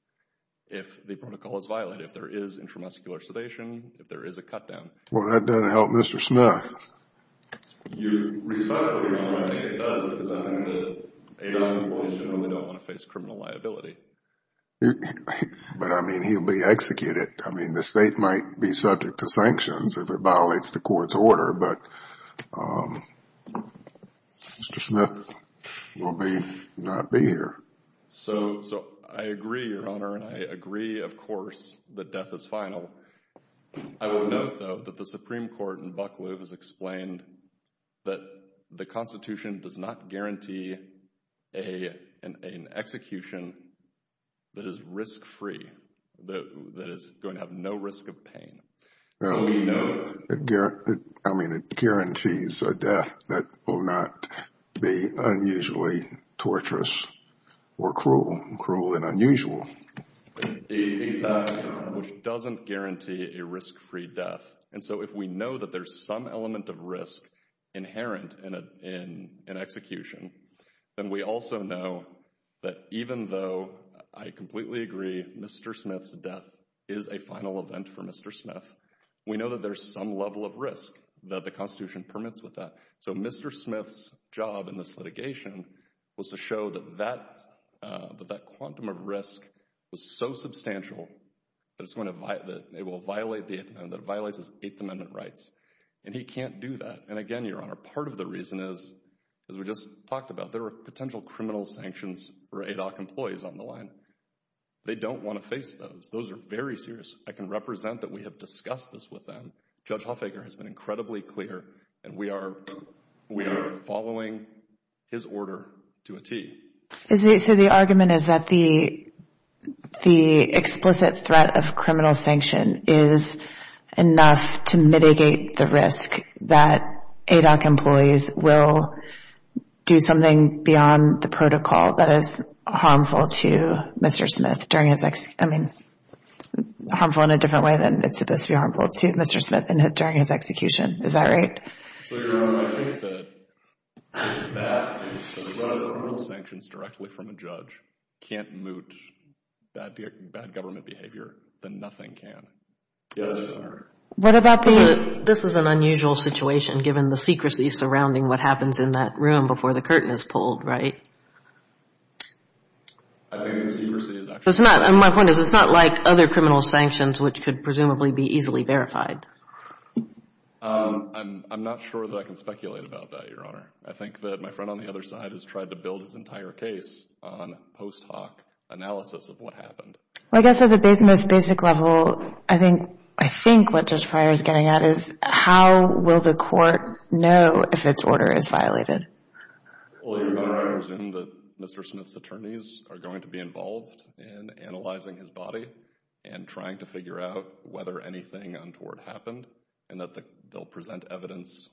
if the protocol is violated, if there is intramuscular sedation, if there is a cut-down. Well, that doesn't help Mr. Smith. You respect what you're doing. I think it does because I think the ADOT employees generally don't want to face criminal liability. But, I mean, he'll be executed. I mean, the State might be subject to sanctions if it violates the court's order. But Mr. Smith will not be here. So I agree, Your Honor, and I agree, of course, that death is final. I will note, though, that the Supreme Court in Bucklew has explained that the Constitution does not guarantee an execution that is risk-free, that is going to have no risk of pain. So we know that. I mean, it guarantees a death that will not be unusually torturous or cruel. Cruel and unusual. Exactly. Which doesn't guarantee a risk-free death. And so if we know that there's some element of risk inherent in execution, then we also know that even though I completely agree Mr. Smith's death is a final event for Mr. Smith, we know that there's some level of risk that the Constitution permits with that. So Mr. Smith's job in this litigation was to show that that quantum of risk was so substantial that it will violate the Eighth Amendment, that it violates his Eighth Amendment rights. And he can't do that. And again, Your Honor, part of the reason is, as we just talked about, there are potential criminal sanctions for ADOC employees on the line. They don't want to face those. Those are very serious. I can represent that we have discussed this with them. Judge Hofegger has been incredibly clear, and we are following his order to a T. So the argument is that the explicit threat of criminal sanction is enough to mitigate the risk that ADOC employees will do something beyond the protocol that is harmful to Mr. Smith during his – I mean, harmful in a different way than it's supposed to be harmful to Mr. Smith during his execution. Is that right? So, Your Honor, I think that if that – if one of the criminal sanctions directly from a judge can't moot bad government behavior, then nothing can. Yes, Your Honor. What about the – this is an unusual situation, given the secrecy surrounding what happens in that room before the curtain is pulled, right? I think the secrecy is actually – My point is, it's not like other criminal sanctions, which could presumably be easily verified. I'm not sure that I can speculate about that, Your Honor. I think that my friend on the other side has tried to build his entire case on post hoc analysis of what happened. I guess at the most basic level, I think what Judge Pryor is getting at is how will the court know if its order is violated? Well, Your Honor, I presume that Mr. Smith's attorneys are going to be involved in analyzing his body and trying to figure out whether anything untoward happened and that they'll present evidence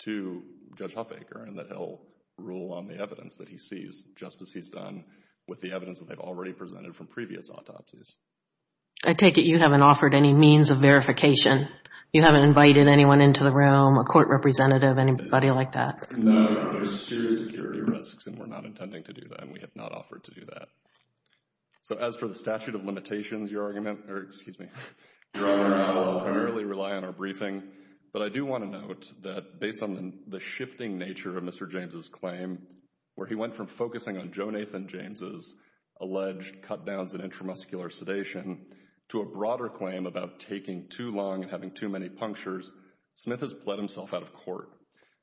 to Judge Huffaker and that he'll rule on the evidence that he sees, just as he's done with the evidence that they've already presented from previous autopsies. I take it you haven't offered any means of verification. You haven't invited anyone into the room, a court representative, anybody like that? No, there's serious security risks, and we're not intending to do that, and we have not offered to do that. So as for the statute of limitations, Your Honor, I will primarily rely on our briefing. But I do want to note that based on the shifting nature of Mr. James' claim, where he went from focusing on Joe Nathan James' alleged cutdowns in intramuscular sedation to a broader claim about taking too long and having too many punctures, Smith has bled himself out of court.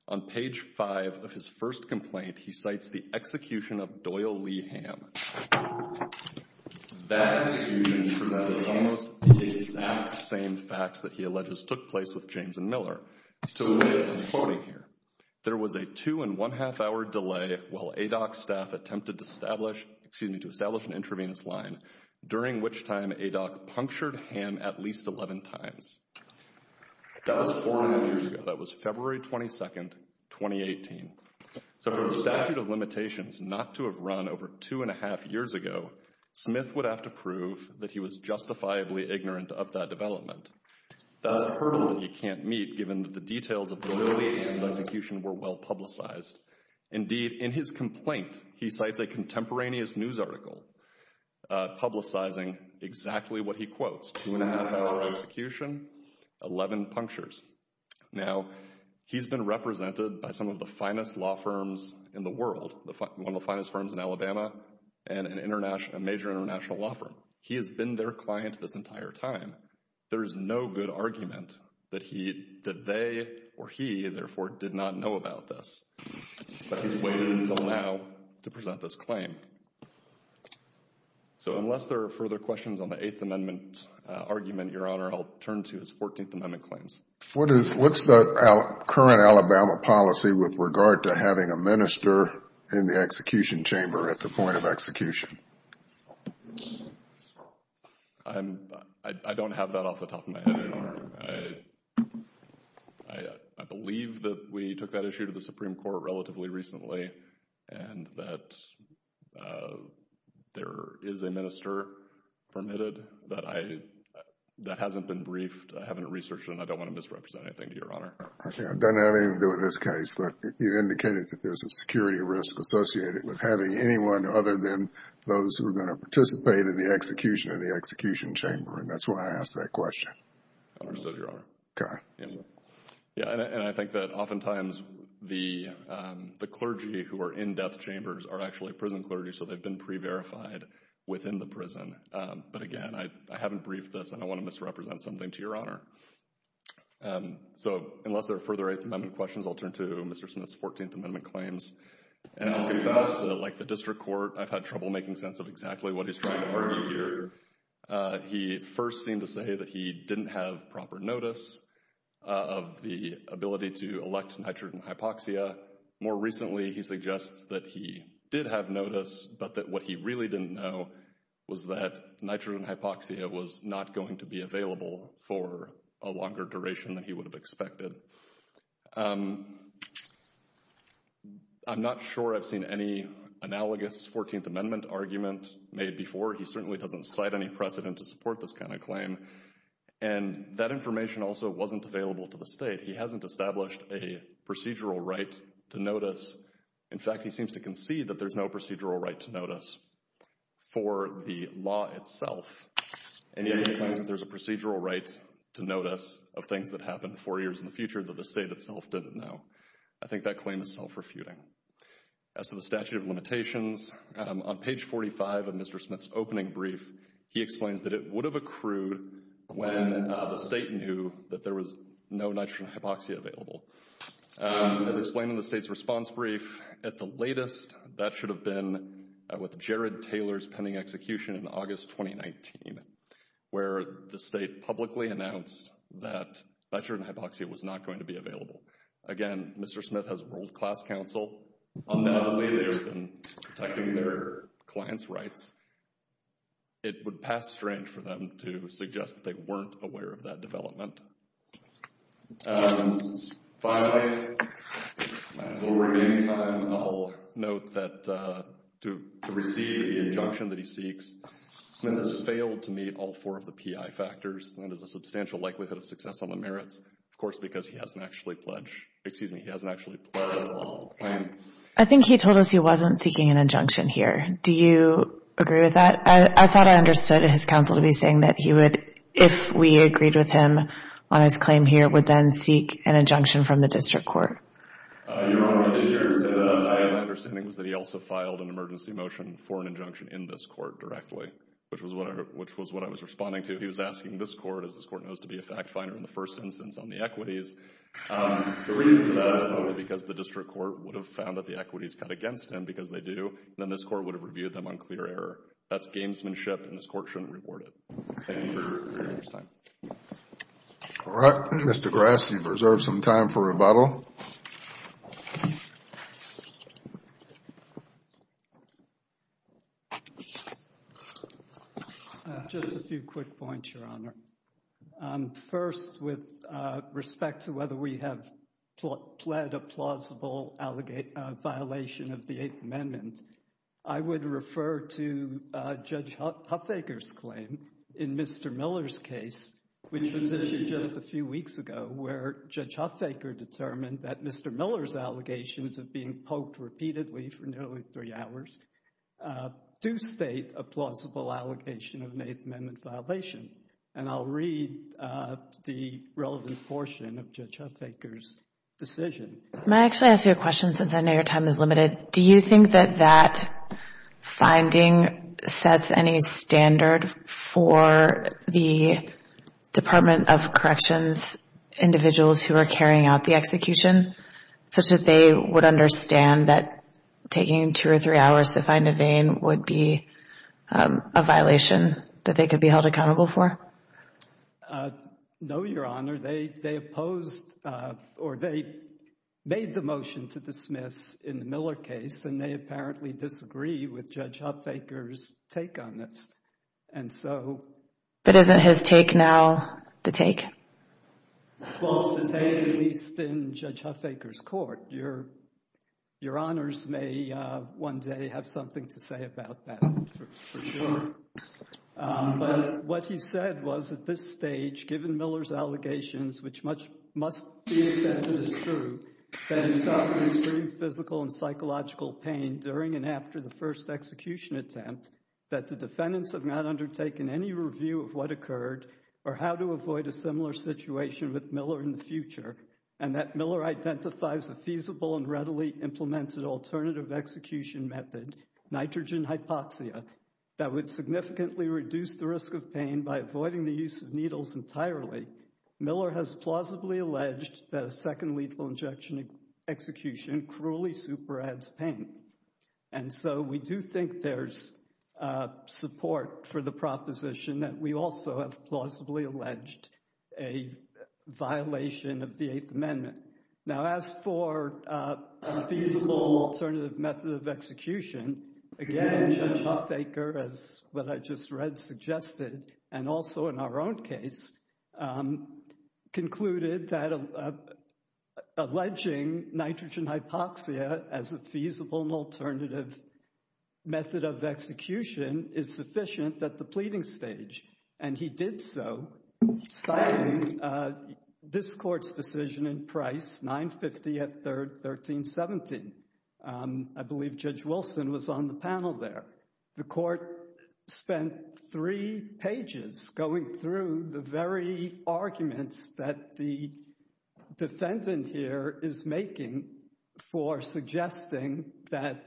On page 5 of his first complaint, he cites the execution of Doyle Lee Hamm. That execution provided almost the exact same facts that he alleges took place with James and Miller. There was a two and one half hour delay while ADOC staff attempted to establish, excuse me, to establish an intravenous line, during which time ADOC punctured Hamm at least 11 times. That was four and a half years ago. That was February 22, 2018. So for the statute of limitations not to have run over two and a half years ago, Smith would have to prove that he was justifiably ignorant of that development. That's a hurdle that he can't meet, given that the details of Doyle Lee Hamm's execution were well publicized. Indeed, in his complaint, he cites a contemporaneous news article publicizing exactly what he quotes, two and a half hour execution, 11 punctures. Now, he's been represented by some of the finest law firms in the world, one of the finest firms in Alabama, and a major international law firm. He has been their client this entire time. There is no good argument that they or he, therefore, did not know about this. But he's waited until now to present this claim. So unless there are further questions on the Eighth Amendment argument, Your Honor, I'll turn to his Fourteenth Amendment claims. What's the current Alabama policy with regard to having a minister in the execution chamber at the point of execution? I don't have that off the top of my head, Your Honor. I believe that we took that issue to the Supreme Court relatively recently, and that there is a minister permitted, but that hasn't been briefed. I haven't researched it, and I don't want to misrepresent anything, Your Honor. It doesn't have anything to do with this case, but you indicated that there's a security risk associated with having anyone other than those who are going to participate in the execution of the execution chamber, and that's why I asked that question. Understood, Your Honor. And I think that oftentimes the clergy who are in death chambers are actually prison clergy, so they've been pre-verified within the prison. But again, I haven't briefed this, and I want to misrepresent something to Your Honor. So unless there are further Eighth Amendment questions, I'll turn to Mr. Smith's Fourteenth Amendment claims. And I'll confess that like the district court, I've had trouble making sense of exactly what he's trying to argue here. He first seemed to say that he didn't have proper notice of the ability to elect nitrogen hypoxia. More recently, he suggests that he did have notice, but that what he really didn't know was that nitrogen hypoxia was not going to be available for a longer duration than he would have expected. I'm not sure I've seen any analogous Fourteenth Amendment argument made before. He certainly doesn't cite any precedent to support this kind of claim. And that information also wasn't available to the state. He hasn't established a procedural right to notice. In fact, he seems to concede that there's no procedural right to notice for the law itself. And yet he claims that there's a procedural right to notice of things that happened four years in the future that the state itself didn't know. I think that claim is self-refuting. As to the statute of limitations, on page 45 of Mr. Smith's opening brief, he explains that it would have accrued when the state knew that there was no nitrogen hypoxia available. As explained in the state's response brief at the latest, that should have been with Jared Taylor's pending execution in August 2019, where the state publicly announced that nitrogen hypoxia was not going to be available. Again, Mr. Smith has world-class counsel. Undoubtedly, they have been protecting their clients' rights. It would pass strange for them to suggest that they weren't aware of that development. Finally, in the remaining time, I'll note that to receive the injunction that he seeks, Smith has failed to meet all four of the PI factors. That is a substantial likelihood of success on the merits, of course, because he hasn't actually pledged, excuse me, he hasn't actually pledged a lawful claim. I think he told us he wasn't seeking an injunction here. Do you agree with that? I thought I understood his counsel to be saying that he would, if we agreed with him on his claim here, would then seek an injunction from the district court. Your Honor, I did hear him say that. My understanding was that he also filed an emergency motion for an injunction in this court directly, which was what I was responding to. He was asking this court, as this court knows to be a fact finder in the first instance on the equities. The reason for that is probably because the district court would have found that the equities cut against him because they do, and then this court would have reviewed them on clear error. That's gamesmanship, and this court shouldn't reward it. Thank you for your time. All right. Mr. Grassley, you've reserved some time for rebuttal. Just a few quick points, Your Honor. First, with respect to whether we have pled a plausible violation of the Eighth Amendment, I would refer to Judge Huffaker's claim in Mr. Miller's case, which was issued just a few weeks ago, where Judge Huffaker determined that Mr. Miller's allegations of being poked repeatedly for nearly three hours do state a plausible allegation of an Eighth Amendment violation, and I'll read the relevant portion of Judge Huffaker's decision. May I actually ask you a question, since I know your time is limited? Do you think that that finding sets any standard for the Department of Corrections individuals who are carrying out the execution, such that they would understand that taking two or three hours to find a vein would be a violation that they could be held accountable for? No, Your Honor. They made the motion to dismiss in the Miller case, and they apparently disagree with Judge Huffaker's take on this. But isn't his take now the take? Well, it's the take released in Judge Huffaker's court. Your Honors may one day have something to say about that, for sure. But what he said was at this stage, given Miller's allegations, which must be accepted as true, that he suffered extreme physical and psychological pain during and after the first execution attempt, that the defendants have not undertaken any review of what occurred or how to avoid a similar situation with Miller in the future, and that Miller identifies a feasible and readily implemented alternative execution method, nitrogen hypoxia, that would significantly reduce the risk of pain by avoiding the use of needles entirely, Miller has plausibly alleged that a second lethal injection execution cruelly super-adds pain. And so we do think there's support for the proposition that we also have plausibly alleged a violation of the Eighth Amendment. Now, as for a feasible alternative method of execution, again, Judge Huffaker, as what I just read, suggested, and also in our own case, concluded that alleging nitrogen hypoxia as a feasible alternative method of execution is sufficient at the pleading stage. And he did so, citing this Court's decision in Price, 950 at 1317. I believe Judge Wilson was on the panel there. The Court spent three pages going through the very arguments that the defendant here is making for suggesting that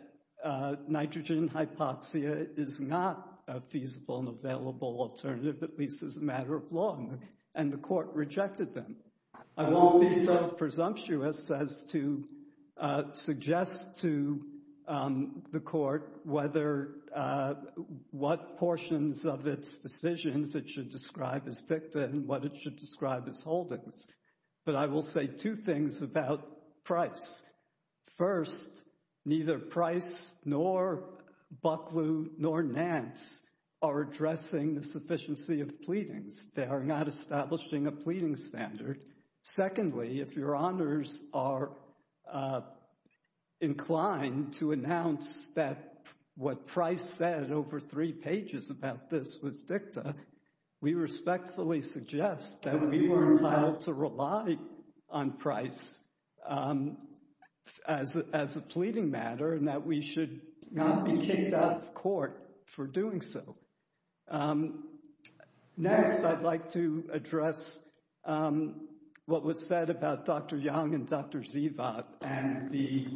nitrogen hypoxia is not a feasible and available alternative, at least as a matter of law, and the Court rejected them. I won't be so presumptuous as to suggest to the Court what portions of its decisions it should describe as dicta and what it should describe as holdings. But I will say two things about Price. First, neither Price nor Bucklew nor Nance are addressing the sufficiency of pleadings. They are not establishing a pleading standard. Secondly, if your honors are inclined to announce that what Price said over three pages about this was dicta, we respectfully suggest that we were entitled to rely on Price as a pleading matter and that we should not be kicked out of court for doing so. Next, I'd like to address what was said about Dr. Young and Dr. Zivat and the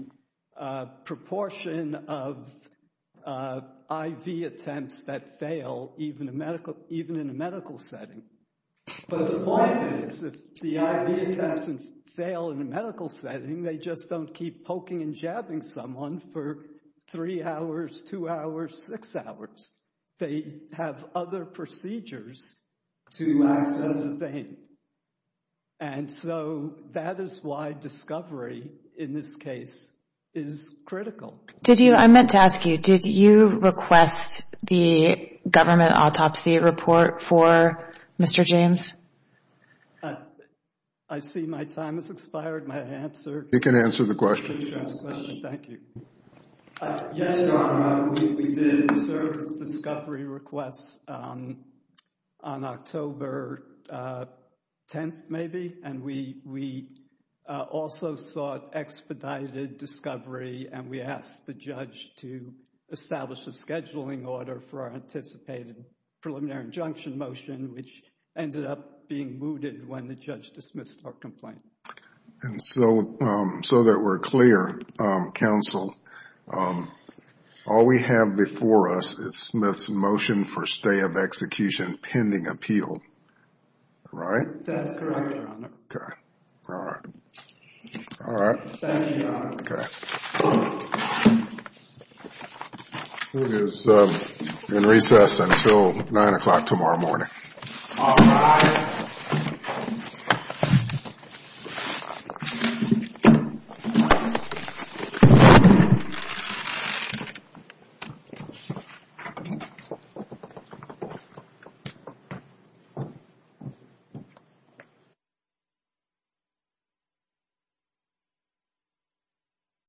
proportion of IV attempts that fail, even in a medical setting. But the point is, if the IV attempts fail in a medical setting, they just don't keep poking and jabbing someone for three hours, two hours, six hours. They have other procedures to access the thing. And so, that is why discovery in this case is critical. I meant to ask you, did you request the government autopsy report for Mr. James? I see my time has expired. My answer... You can answer the question. Thank you. Yes, Your Honor. We did a service discovery request on October 10th, maybe. And we also sought expedited discovery and we asked the judge to establish a scheduling order for our anticipated preliminary injunction motion, which ended up being mooted when the judge dismissed our complaint. And so that we're clear, counsel, all we have before us is Smith's motion for stay of execution pending appeal. Right? That's correct, Your Honor. Okay. All right. All right. Thank you, Your Honor. Okay. It is in recess until 9 o'clock tomorrow morning. All right. Thank you.